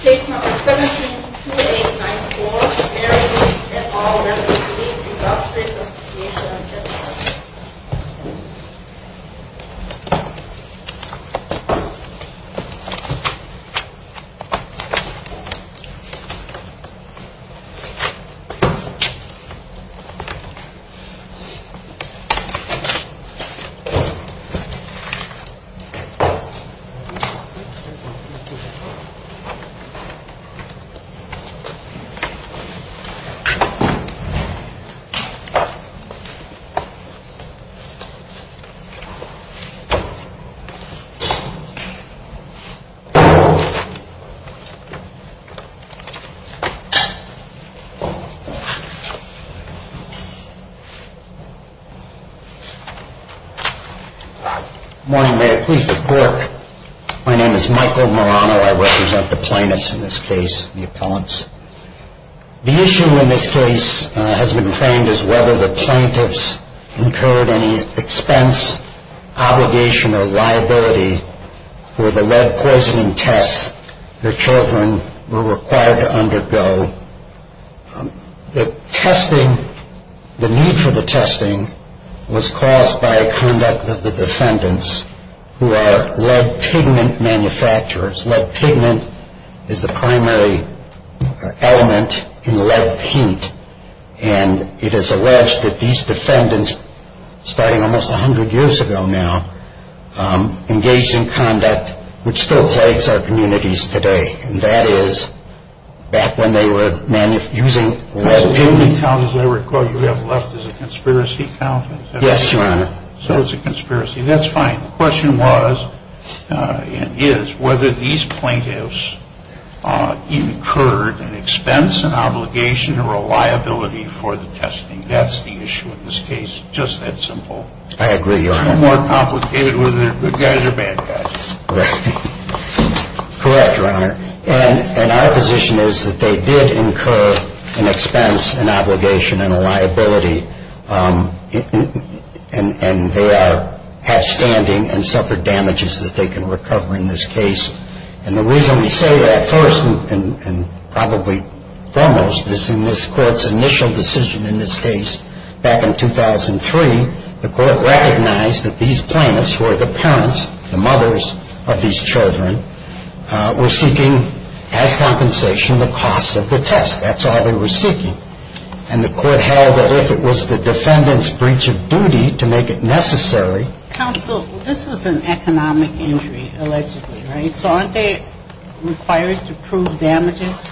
State Number 172894, Airways, et al. Lead Industries Association, Inc State Number 172894, Airways, et al. I represent the plaintiffs in this case, the appellants. The issue in this case has been framed as whether the plaintiffs incurred any expense, obligation, or liability for the lead poisoning tests their children were required to undergo. The need for the testing was caused by conduct of the defendants, who are lead pigment manufacturers. Lead pigment is the primary element in lead paint. And it is alleged that these defendants, starting almost 100 years ago now, engaged in conduct which still plagues our communities today. And that is back when they were using lead paint. The only count as I recall you have left is a conspiracy count? Yes, Your Honor. So it's a conspiracy. That's fine. The question was, and is, whether these plaintiffs incurred an expense, an obligation, or a liability for the testing. That's the issue in this case. Just that simple. I agree, Your Honor. It's more complicated whether they're good guys or bad guys. Correct, Your Honor. And our position is that they did incur an expense, an obligation, and a liability. And they are outstanding and suffered damages that they can recover in this case. And the reason we say that first and probably foremost is in this Court's initial decision in this case back in 2003, the Court recognized that these plaintiffs, who are the parents, the mothers, of these children, were seeking as compensation the costs of the test. That's all they were seeking. And the Court held that if it was the defendant's breach of duty to make it necessary. Counsel, this was an economic injury, allegedly, right? So aren't they required to prove damages?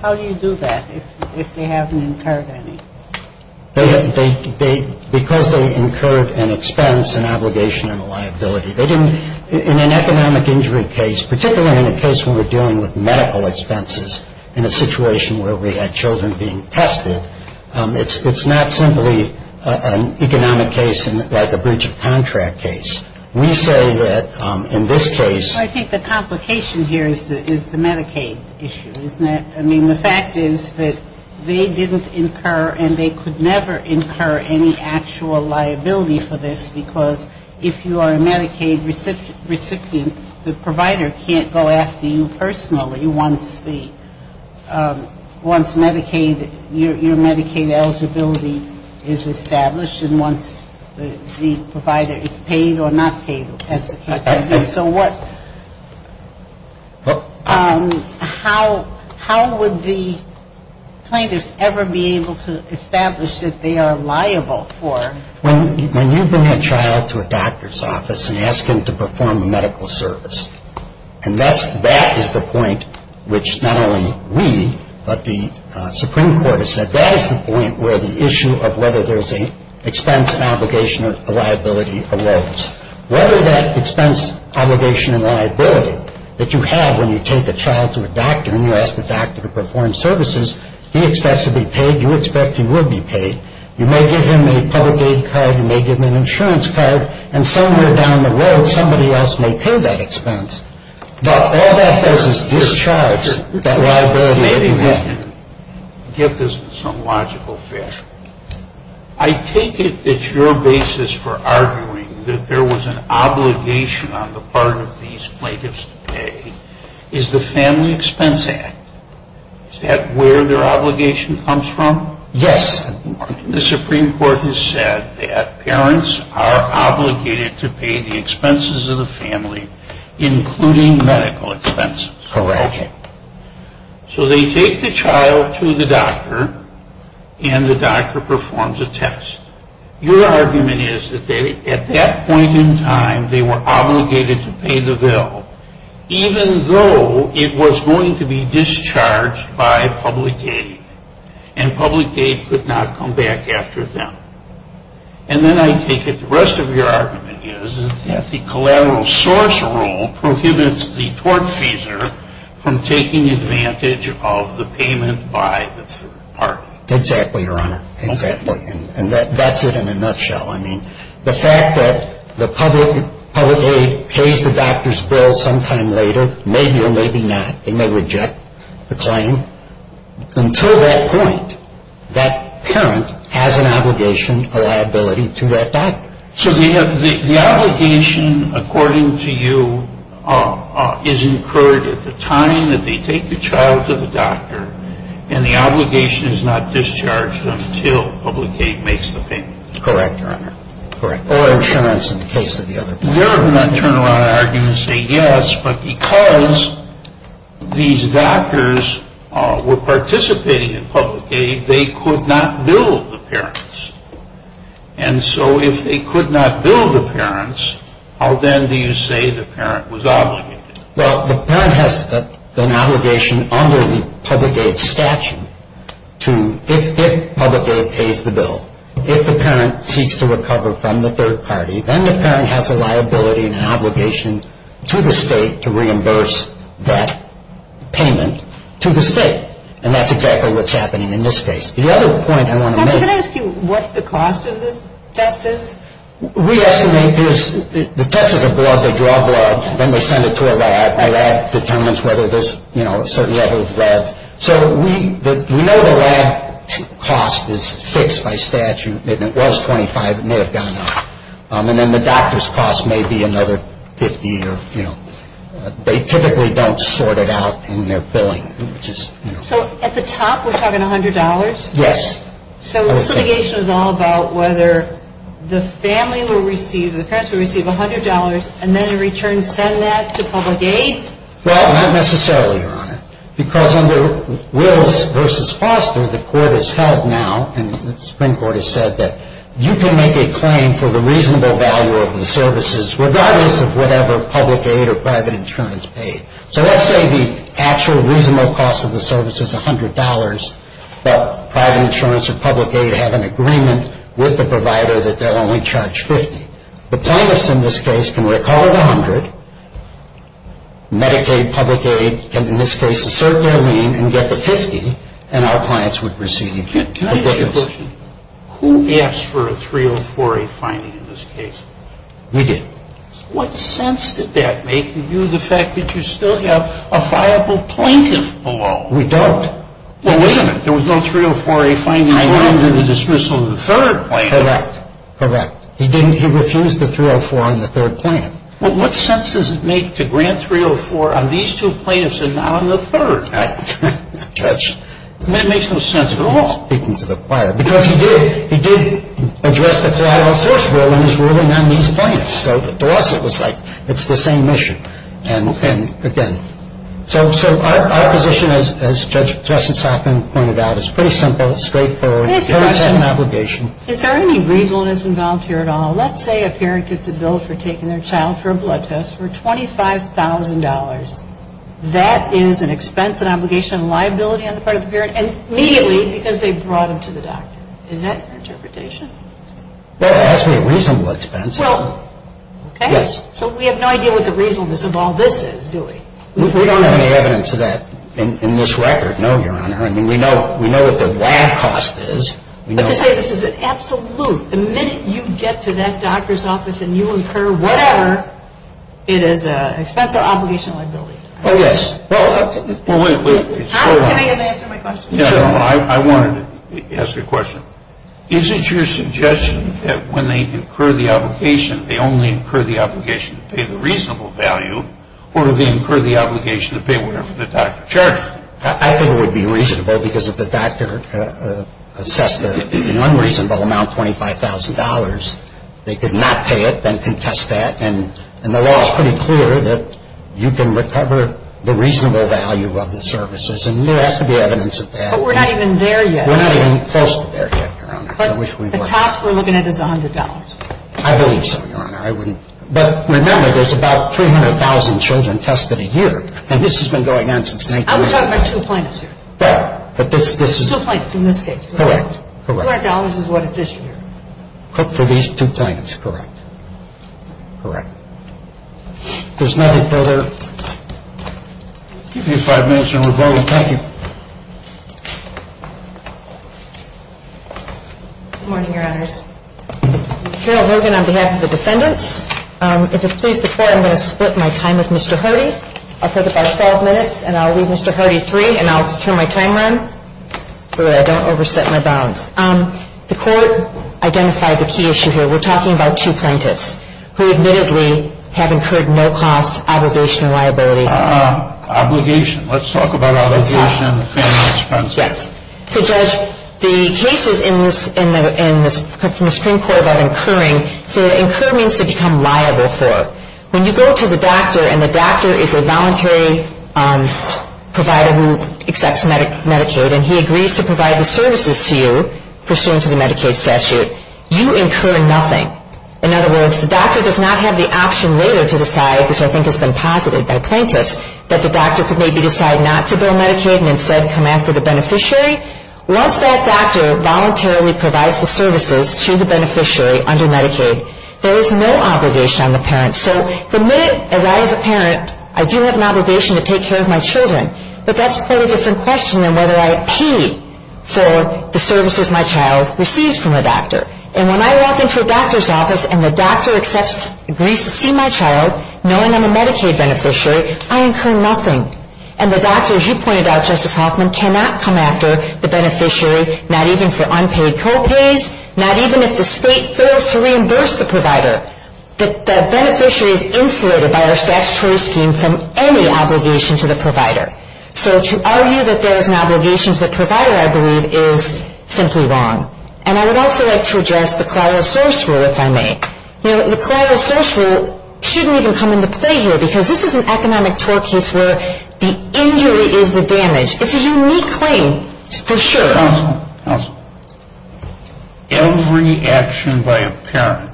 How do you do that if they haven't incurred any? They didn't. In an economic injury case, particularly in a case where we're dealing with medical expenses, in a situation where we had children being tested, it's not simply an economic case like a breach of contract case. We say that in this case. Well, I think the complication here is the Medicaid issue, isn't it? I mean, the fact is that they didn't incur and they could never incur any actual liability for this because if you are a Medicaid recipient, the provider can't go after you personally once Medicaid, your Medicaid eligibility is established and once the provider is paid or not paid as the case may be. So what – how would the plaintiffs ever be able to establish that they are liable for? When you bring a child to a doctor's office and ask him to perform a medical service, and that's – that is the point which not only we but the Supreme Court has said, that you have when you take a child to a doctor and you ask the doctor to perform services, he expects to be paid, you expect he will be paid, you may give him a public aid card, you may give him an insurance card, and somewhere down the road somebody else may pay that expense, but all that does is discharge that liability that you have. I take it that your basis for arguing that there was an obligation on the part of these plaintiffs to pay is the Family Expense Act. Is that where their obligation comes from? Yes. The Supreme Court has said that parents are obligated to pay the expenses of the family, including medical expenses. Correct. Okay. So they take the child to the doctor and the doctor performs a test. Your argument is that at that point in time they were obligated to pay the bill, even though it was going to be discharged by public aid, and public aid could not come back after them. And then I take it the rest of your argument is that the collateral source rule prohibits the tortfeasor from taking advantage of the payment by the third party. Exactly, Your Honor. Exactly. And that's it in a nutshell. The fact that the public aid pays the doctor's bill sometime later, maybe or maybe not, and they reject the claim, until that point, that parent has an obligation, a liability to that doctor. So the obligation, according to you, is incurred at the time that they take the child to the doctor, and the obligation is not discharged until public aid makes the payment. Correct, Your Honor. Correct. Or insurance, in the case of the other parents. Your Honor, I turn around and argue and say yes, but because these doctors were participating in public aid, they could not bill the parents. And so if they could not bill the parents, how then do you say the parent was obligated? Well, the parent has an obligation under the public aid statute to, if public aid pays the bill, if the parent seeks to recover from the third party, then the parent has a liability and an obligation to the state to reimburse that payment to the state. And that's exactly what's happening in this case. The other point I want to make... Counselor, can I ask you what the cost of this test is? We estimate that the test is a blood, they draw blood, then they send it to a lab. My lab determines whether there's a certain level of blood. So we know the lab cost is fixed by statute. If it was $25, it may have gone up. And then the doctor's cost may be another $50. They typically don't sort it out in their billing. So at the top, we're talking $100? Yes. So this litigation is all about whether the family will receive, the parents will receive $100 and then in return send that to public aid? Well, not necessarily, Your Honor. Because under Wills v. Foster, the court has held now, and the Supreme Court has said that you can make a claim for the reasonable value of the services regardless of whatever public aid or private insurance paid. So let's say the actual reasonable cost of the service is $100, but private insurance or public aid have an agreement with the provider that they'll only charge $50. The plaintiffs in this case can recover the $100, Medicaid, public aid, and in this case assert their lien and get the $50, and our clients would receive the difference. Can I ask you a question? Who asked for a 304A finding in this case? We did. What sense did that make to you, the fact that you still have a viable plaintiff below? We don't. Well, wait a minute. There was no 304A finding under the dismissal of the third plaintiff. Correct. Correct. He refused the 304 on the third plaintiff. Well, what sense does it make to grant 304 on these two plaintiffs and not on the third? Judge. It makes no sense at all. Because he did. He did address the collateral source rule in his ruling on these plaintiffs. So to us it was like it's the same issue. And, again, so our position, as Justice Hoffman pointed out, is pretty simple, straightforward. The parents have an obligation. Is there any reasonableness involved here at all? Let's say a parent gets a bill for taking their child for a blood test for $25,000. That is an expense, an obligation, a liability on the part of the parent, and immediately because they brought him to the doctor. Is that your interpretation? Well, it has to be a reasonable expense. Well, okay. Yes. So we have no idea what the reasonableness of all this is, do we? We don't have any evidence of that in this record, no, Your Honor. I mean, we know what the lab cost is. But to say this is an absolute, the minute you get to that doctor's office and you incur whatever, it is an expense or obligation or liability? Oh, yes. Well, wait. Can I answer my question? Sure. I wanted to ask a question. Is it your suggestion that when they incur the obligation, they only incur the obligation to pay the reasonable value, or do they incur the obligation to pay whatever the doctor charges? I think it would be reasonable because if the doctor assessed the unreasonable amount, $25,000, they could not pay it, then contest that, And the law is pretty clear that you can recover the reasonable value of the services. And there has to be evidence of that. But we're not even there yet. We're not even close to there yet, Your Honor. But the top we're looking at is $100. I believe so, Your Honor. But remember, there's about 300,000 children tested a year. And this has been going on since 1990. I'm talking about two plaintiffs here. Correct. Two plaintiffs in this case. Correct. $100 is what it's issued. For these two plaintiffs, correct. Correct. There's nothing further. Give me five minutes, and we're voting. Thank you. Good morning, Your Honors. Carol Hogan on behalf of the defendants. If it pleases the Court, I'm going to split my time with Mr. Hardy. I'll put it by 12 minutes, and I'll leave Mr. Hardy three, and I'll just turn my time around so that I don't overstep my bounds. The Court identified the key issue here. We're talking about two plaintiffs who admittedly have incurred no cost, obligation, or liability. Obligation. Let's talk about obligation and expenses. Yes. So, Judge, the cases in the Supreme Court about incurring say that incur means to become liable for. When you go to the doctor, and the doctor is a voluntary provider who accepts Medicaid, and he agrees to provide the services to you pursuant to the Medicaid statute, you incur nothing. In other words, the doctor does not have the option later to decide, which I think has been posited by plaintiffs, that the doctor could maybe decide not to bill Medicaid and instead come after the beneficiary. Once that doctor voluntarily provides the services to the beneficiary under Medicaid, there is no obligation on the parent. So the minute, as I as a parent, I do have an obligation to take care of my children, but that's quite a different question than whether I pay for the services my child receives from a doctor. And when I walk into a doctor's office, and the doctor accepts, agrees to see my child, knowing I'm a Medicaid beneficiary, I incur nothing. And the doctor, as you pointed out, Justice Hoffman, cannot come after the beneficiary, not even for unpaid co-pays, not even if the state fails to reimburse the provider. The beneficiary is insulated by our statutory scheme from any obligation to the provider. So to argue that there is an obligation to the provider, I believe, is simply wrong. And I would also like to address the collateral source rule, if I may. The collateral source rule shouldn't even come into play here, because this is an economic tort case where the injury is the damage. It's a unique claim, for sure. Counsel, every action by a parent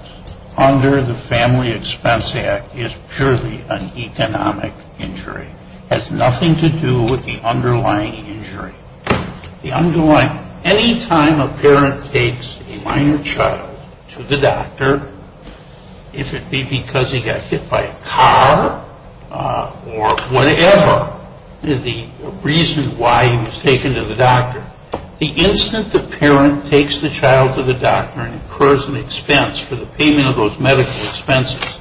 under the Family Expense Act is purely an economic injury. It has nothing to do with the underlying injury. Anytime a parent takes a minor child to the doctor, if it be because he got hit by a car or whatever, the reason why he was taken to the doctor, the instant the parent takes the child to the doctor and incurs an expense for the payment of those medical expenses,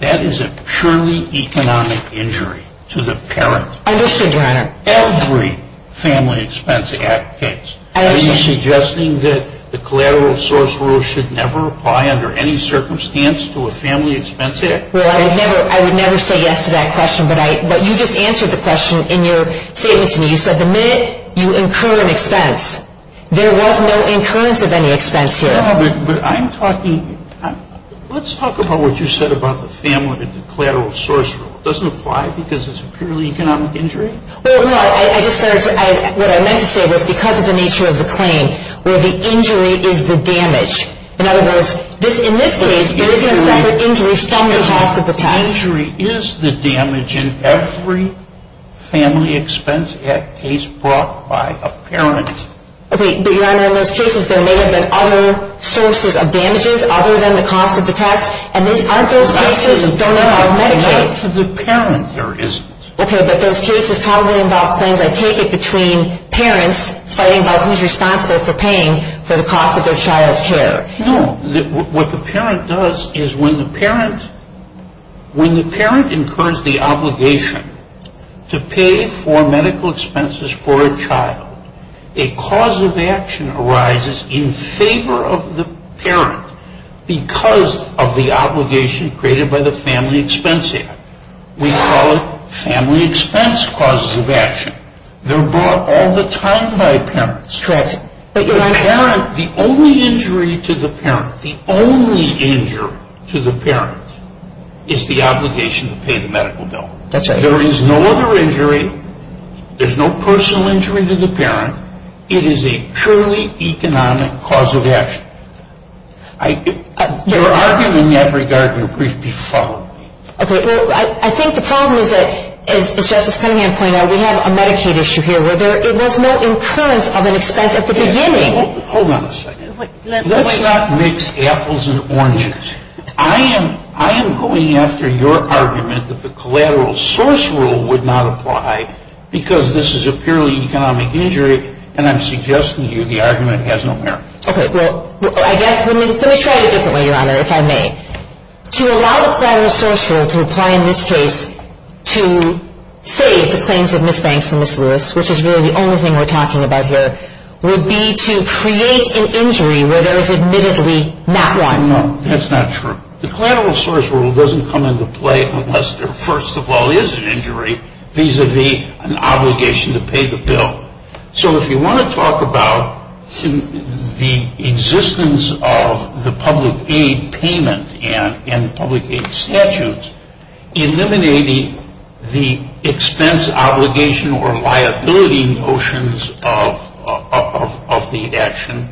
that is a purely economic injury to the parent. Understood, Your Honor. Every Family Expense Act case. Are you suggesting that the collateral source rule should never apply under any circumstance to a Family Expense Act? Well, I would never say yes to that question. But you just answered the question in your statement to me. You said the minute you incur an expense, there was no incurrence of any expense here. But I'm talking – let's talk about what you said about the family and the collateral source rule. It doesn't apply because it's a purely economic injury? Well, no. I just started to – what I meant to say was because of the nature of the claim where the injury is the damage. In other words, in this case, there is no separate injury from the cost of the test. The injury is the damage in every Family Expense Act case brought by a parent. Okay. But, Your Honor, in those cases, there may have been other sources of damages other than the cost of the test. And aren't those cases – Not to the parent, there isn't. Okay. But those cases probably involve claims, I take it, between parents fighting about who's responsible for paying for the cost of their child's care. No. What the parent does is when the parent – when the parent incurs the obligation to pay for medical expenses for a child, a cause of action arises in favor of the parent because of the obligation created by the Family Expense Act. We call it Family Expense Causes of Action. They're brought all the time by parents. That's right. But, Your Honor – The parent – the only injury to the parent – the only injury to the parent is the obligation to pay the medical bill. That's right. There is no other injury. There's no personal injury to the parent. It is a purely economic cause of action. Your argument in that regard will briefly follow. Okay. Well, I think the problem is that, as Justice Cunningham pointed out, we have a Medicaid issue here where there's no incurrence of an expense at the beginning. Hold on a second. Let's not mix apples and oranges. I am going after your argument that the collateral source rule would not apply because this is a purely economic injury, and I'm suggesting to you the argument has no merit. Okay. Well, I guess – let me try it a different way, Your Honor, if I may. To allow the collateral source rule to apply in this case to save the claims of Ms. Banks and Ms. Lewis, which is really the only thing we're talking about here, would be to create an injury where there is admittedly not one. No, that's not true. The collateral source rule doesn't come into play unless there first of all is an injury vis-à-vis an obligation to pay the bill. So if you want to talk about the existence of the public aid payment and public aid statutes, eliminating the expense obligation or liability notions of the action,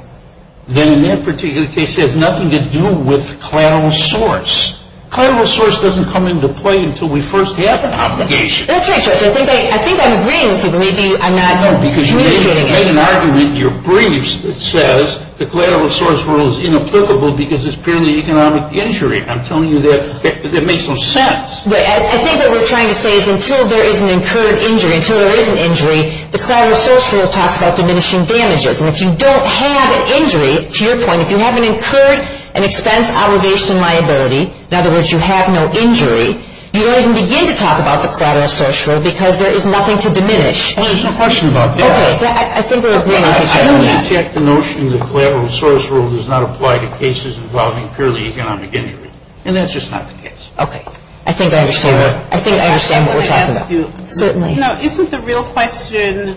then in that particular case it has nothing to do with collateral source. Collateral source doesn't come into play until we first have an obligation. That's right, Judge. I think I'm agreeing with you, but maybe I'm not communicating it. No, because you made an argument in your briefs that says the collateral source rule is inapplicable because it's purely economic injury. I'm telling you that makes no sense. I think what we're trying to say is until there is an incurred injury, until there is an injury, the collateral source rule talks about diminishing damages. And if you don't have an injury, to your point, if you haven't incurred an expense obligation liability, in other words, you have no injury, you don't even begin to talk about the collateral source rule because there is nothing to diminish. There's a question about that. Okay. I think we're agreeing with you on that. I don't reject the notion that collateral source rule does not apply to cases involving purely economic injury. And that's just not the case. Okay. I think I understand what we're talking about. Let me ask you. Certainly. Isn't the real question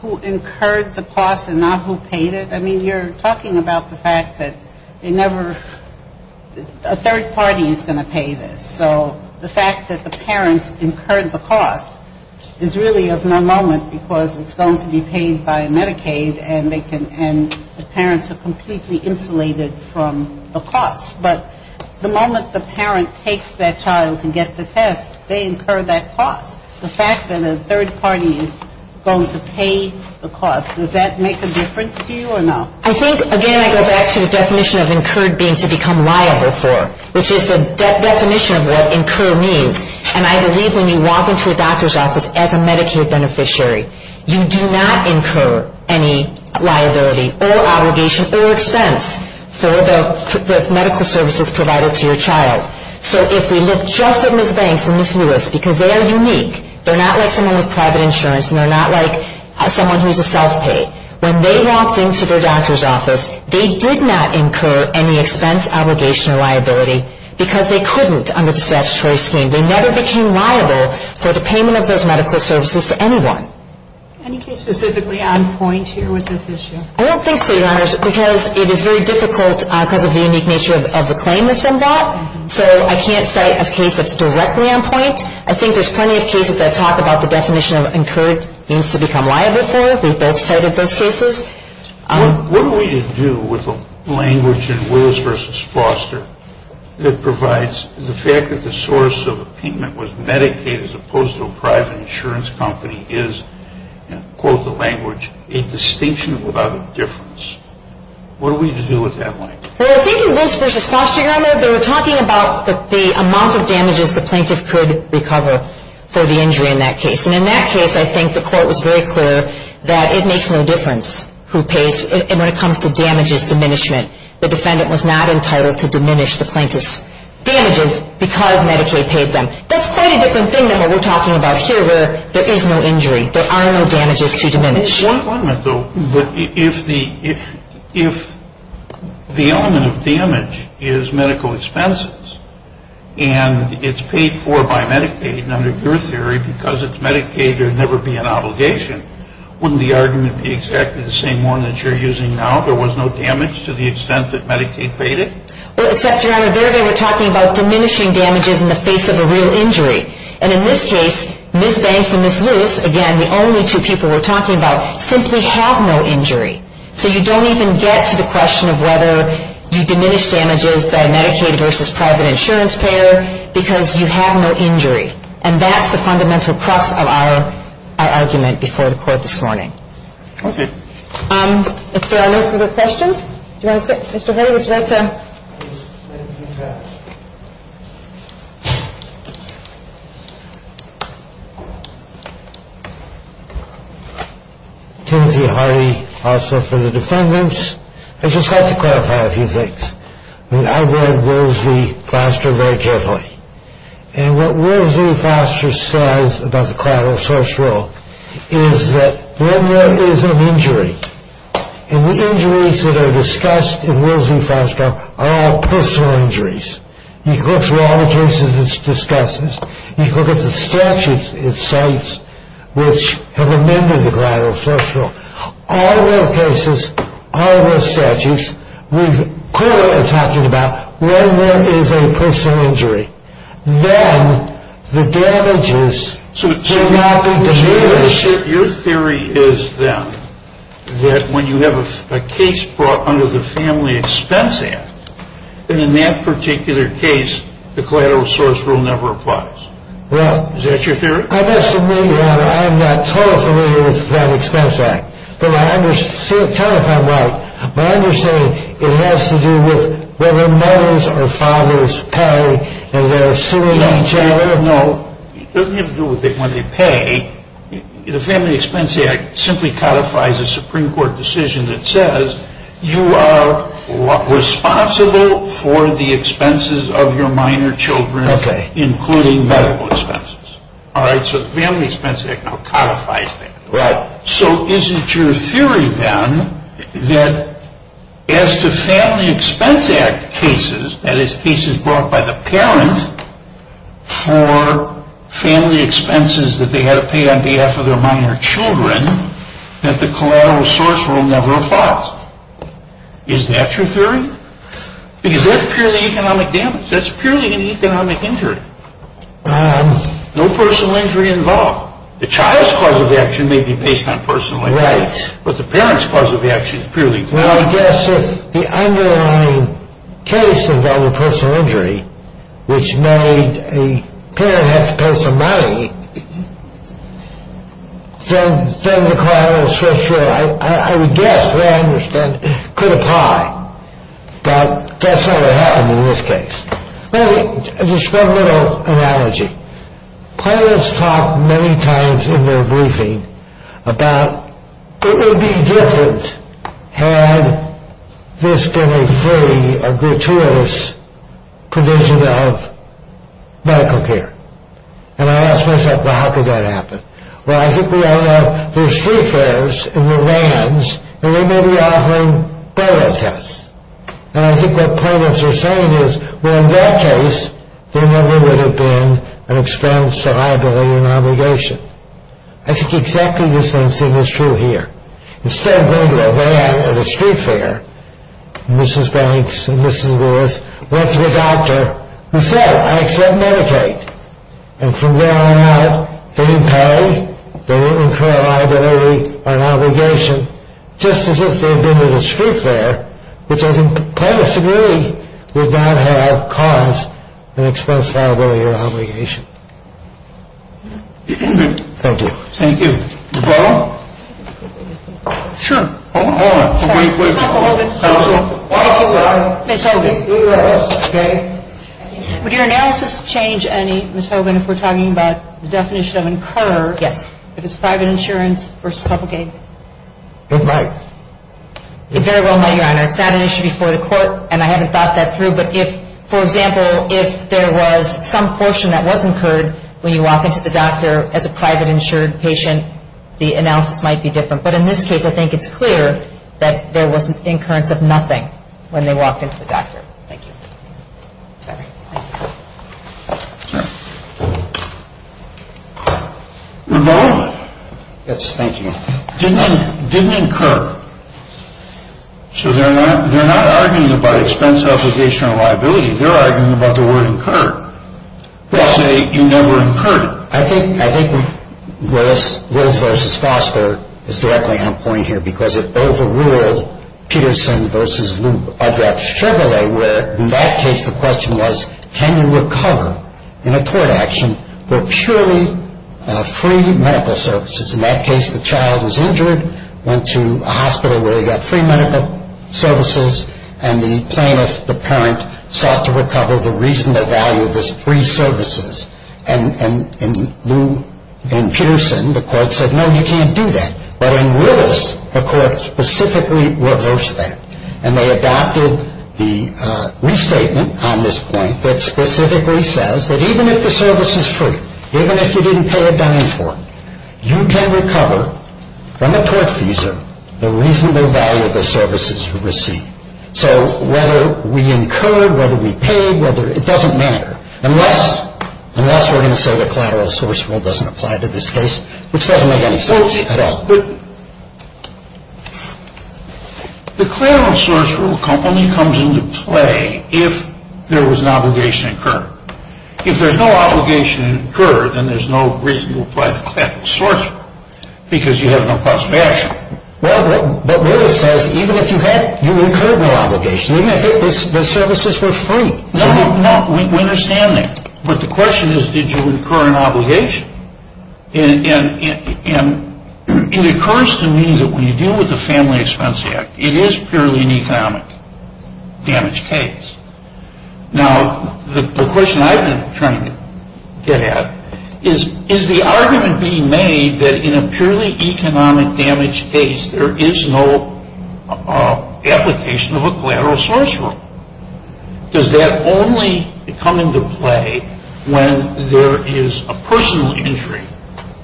who incurred the cost and not who paid it? I mean, you're talking about the fact that a third party is going to pay this. So the fact that the parents incurred the cost is really of no moment because it's going to be paid by Medicaid, and the parents are completely insulated from the cost. But the moment the parent takes that child to get the test, they incur that cost. The fact that a third party is going to pay the cost, does that make a difference to you or no? I think, again, I go back to the definition of incurred being to become liable for, which is the definition of what incur means. And I believe when you walk into a doctor's office as a Medicaid beneficiary, you do not incur any liability or obligation or expense for the medical services provided to your child. So if we look just at Ms. Banks and Ms. Lewis, because they are unique, they're not like someone with private insurance and they're not like someone who's a self-pay. When they walked into their doctor's office, they did not incur any expense, obligation, or liability because they couldn't under the statutory scheme. They never became liable for the payment of those medical services to anyone. Any case specifically on point here with this issue? I don't think so, Your Honors, because it is very difficult because of the unique nature of the claim that's been brought. So I can't cite a case that's directly on point. I think there's plenty of cases that talk about the definition of incurred means to become liable for. We've both cited those cases. What do we do with the language in Willis v. Foster that provides the fact that the source of the payment was Medicaid as opposed to a private insurance company is, and quote the language, a distinction without a difference? What do we do with that language? Well, in thinking of Willis v. Foster, Your Honor, they were talking about the amount of damages the plaintiff could recover for the injury in that case. And in that case, I think the court was very clear that it makes no difference who pays. And when it comes to damages diminishment, the defendant was not entitled to diminish the plaintiff's damages because Medicaid paid them. That's quite a different thing than what we're talking about here where there is no injury. There are no damages to diminish. One comment, though. If the element of damage is medical expenses and it's paid for by Medicaid, and under your theory because it's Medicaid there would never be an obligation, wouldn't the argument be exactly the same one that you're using now? There was no damage to the extent that Medicaid paid it? Well, except, Your Honor, there they were talking about diminishing damages in the face of a real injury. And in this case, Ms. Banks and Ms. Lewis, again, the only two people we're talking about, simply have no injury. So you don't even get to the question of whether you diminish damages by Medicaid versus private insurance payer because you have no injury. And that's the fundamental crux of our argument before the court this morning. Okay. If there are no further questions, do you want to sit? Mr. Henry, would you like to? Timothy Hardy, Officer for the Defendants. I just have to clarify a few things. I've read Woolsey-Foster very carefully. And what Woolsey-Foster says about the collateral source rule is that when there is an injury, and the injuries that are discussed in Woolsey-Foster are all personal injuries. He looks at all the cases he discusses. He looks at the statutes it cites which have amended the collateral source rule. All those cases, all those statutes, we clearly are talking about when there is a personal injury, then the damages do not diminish. Your theory is, then, that when you have a case brought under the Family Expense Act, that in that particular case, the collateral source rule never applies. Is that your theory? I'm not totally familiar with the Family Expense Act. Tell me if I'm right. But I understand it has to do with whether mothers or fathers pay and they're suing each other. No. It doesn't have to do with when they pay. The Family Expense Act simply codifies a Supreme Court decision that says, you are responsible for the expenses of your minor children, including medical expenses. All right? So the Family Expense Act now codifies that. Right. So is it your theory, then, that as to Family Expense Act cases, that is, cases brought by the parent for family expenses that they had to pay on behalf of their minor children, that the collateral source rule never applies? Is that your theory? Because that's purely economic damage. That's purely an economic injury. No personal injury involved. The child's cause of action may be based on personal injury. Right. But the parent's cause of action is purely economic. Well, I guess if the underlying case involved personal injury, which made the parent have to pay some money, then the collateral source rule, I would guess, the way I understand it, could apply. But that's not what happened in this case. Well, just one little analogy. Parents talk many times in their briefing about, it would be different had this been a free or gratuitous provision of medical care. And I ask myself, well, how could that happen? Well, I think we all know there's free fares in the lands, and they may be offering better tests. And I think what parents are saying is, well, in their case, there never would have been an expense, a liability, an obligation. I think exactly the same thing is true here. Instead of going to a van at a street fair, Mrs. Banks and Mrs. Lewis went to a doctor who said, I accept Medicaid. And from there on out, they didn't pay. They didn't incur a liability or an obligation. And just as if they had been at a street fair, which I completely agree would not have caused an expense, liability, or obligation. Thank you. Thank you. Ms. Hogan? Sure. Hold on. Wait, wait. Counsel. Counsel. Ms. Hogan. Okay. Would your analysis change any, Ms. Hogan, if we're talking about the definition of incurred? Yes. If it's private insurance versus public aid? It might. It very well might, Your Honor. It's not an issue before the court, and I haven't thought that through. But if, for example, if there was some portion that was incurred when you walk into the doctor as a private insured patient, the analysis might be different. But in this case, I think it's clear that there was an incurrence of nothing when they walked into the doctor. Thank you. Okay. Thank you. Okay. Your Honor. Yes, thank you. Didn't incur. So they're not arguing about expense, obligation, or liability. They're arguing about the word incurred. They say you never incurred it. I think Willis versus Foster is directly on point here because it overruled Peterson versus Lou Audra Chevrolet where, in that case, the question was, can you recover in a court action for purely free medical services? In that case, the child was injured, went to a hospital where he got free medical services, and the plaintiff, the parent, sought to recover the reasonable value of those free services. And Lou and Peterson, the court said, no, you can't do that. But in Willis, the court specifically reversed that, and they adopted the restatement on this point that specifically says that even if the service is free, even if you didn't pay a dime for it, you can recover from a tortfeasor the reasonable value of the services you receive. So whether we incurred, whether we paid, it doesn't matter, unless we're going to say the collateral source rule doesn't apply to this case, which doesn't make any sense at all. But the collateral source rule only comes into play if there was an obligation incurred. If there's no obligation incurred, then there's no reason to apply the collateral source rule because you have no cost of action. Well, but Willis says even if you had, you incurred no obligation, even if the services were free. No, we understand that. But the question is, did you incur an obligation? And it occurs to me that when you deal with the Family Expense Act, it is purely an economic damage case. Now, the question I've been trying to get at is, is the argument being made that in a purely economic damage case, there is no application of a collateral source rule? Does that only come into play when there is a personal injury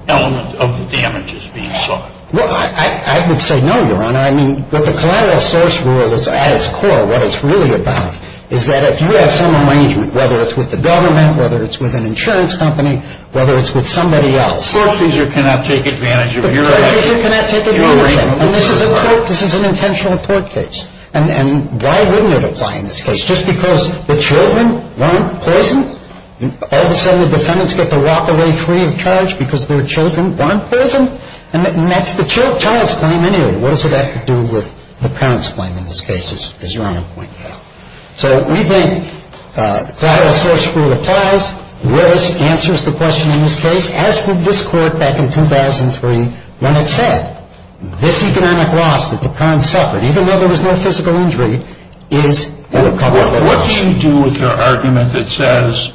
element of the damages being sought? Well, I would say no, Your Honor. I mean, but the collateral source rule at its core, what it's really about, is that if you have some arrangement, whether it's with the government, whether it's with an insurance company, whether it's with somebody else. The foreseasor cannot take advantage of your arrangement. The foreseasor cannot take advantage of it. And this is an intentional court case. And why wouldn't it apply in this case? Just because the children weren't poisoned? All of a sudden, the defendants get to walk away free of charge because their children weren't poisoned? And that's the child's claim anyway. What does it have to do with the parent's claim in this case, as Your Honor pointed out? So we think the collateral source rule applies. Willis answers the question in this case, as did this Court back in 2003, when it said this economic loss that the parents suffered, even though there was no physical injury, is the recoverable loss. What do you do with your argument that says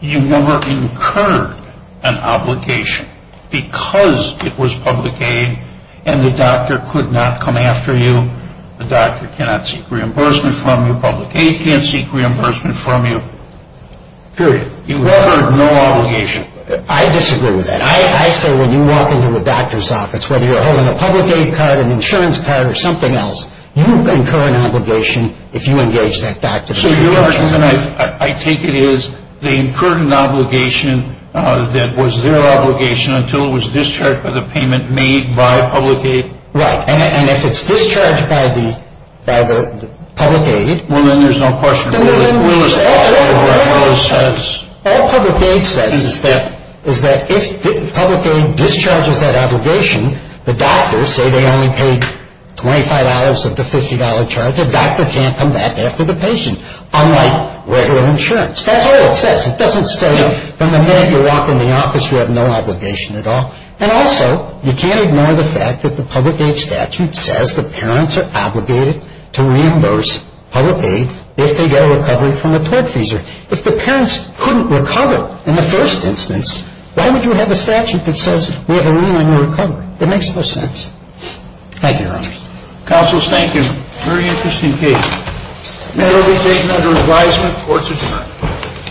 you never incurred an obligation because it was public aid and the doctor could not come after you, the doctor cannot seek reimbursement from you, public aid can't seek reimbursement from you, period? You incurred no obligation. I disagree with that. I say when you walk into the doctor's office, whether you're holding a public aid card, an insurance card, or something else, you incur an obligation if you engage that doctor. So your argument, I take it, is they incurred an obligation that was their obligation until it was discharged by the payment made by public aid? Right. And if it's discharged by the public aid… Well, then there's no question that Willis… All public aid says is that if public aid discharges that obligation, the doctors say they only paid $25 of the $50 charge, the doctor can't come back after the patient, unlike regular insurance. That's all it says. It doesn't say from the minute you walk in the office you have no obligation at all. And also, you can't ignore the fact that the public aid statute says the parents are obligated to reimburse public aid if they get a recovery from a tortfeasor. If the parents couldn't recover in the first instance, why would you have a statute that says we have a remand for recovery? It makes no sense. Thank you, Your Honors. Counsel, thank you. Very interesting case. The matter will be taken under advisement, courts adjourned.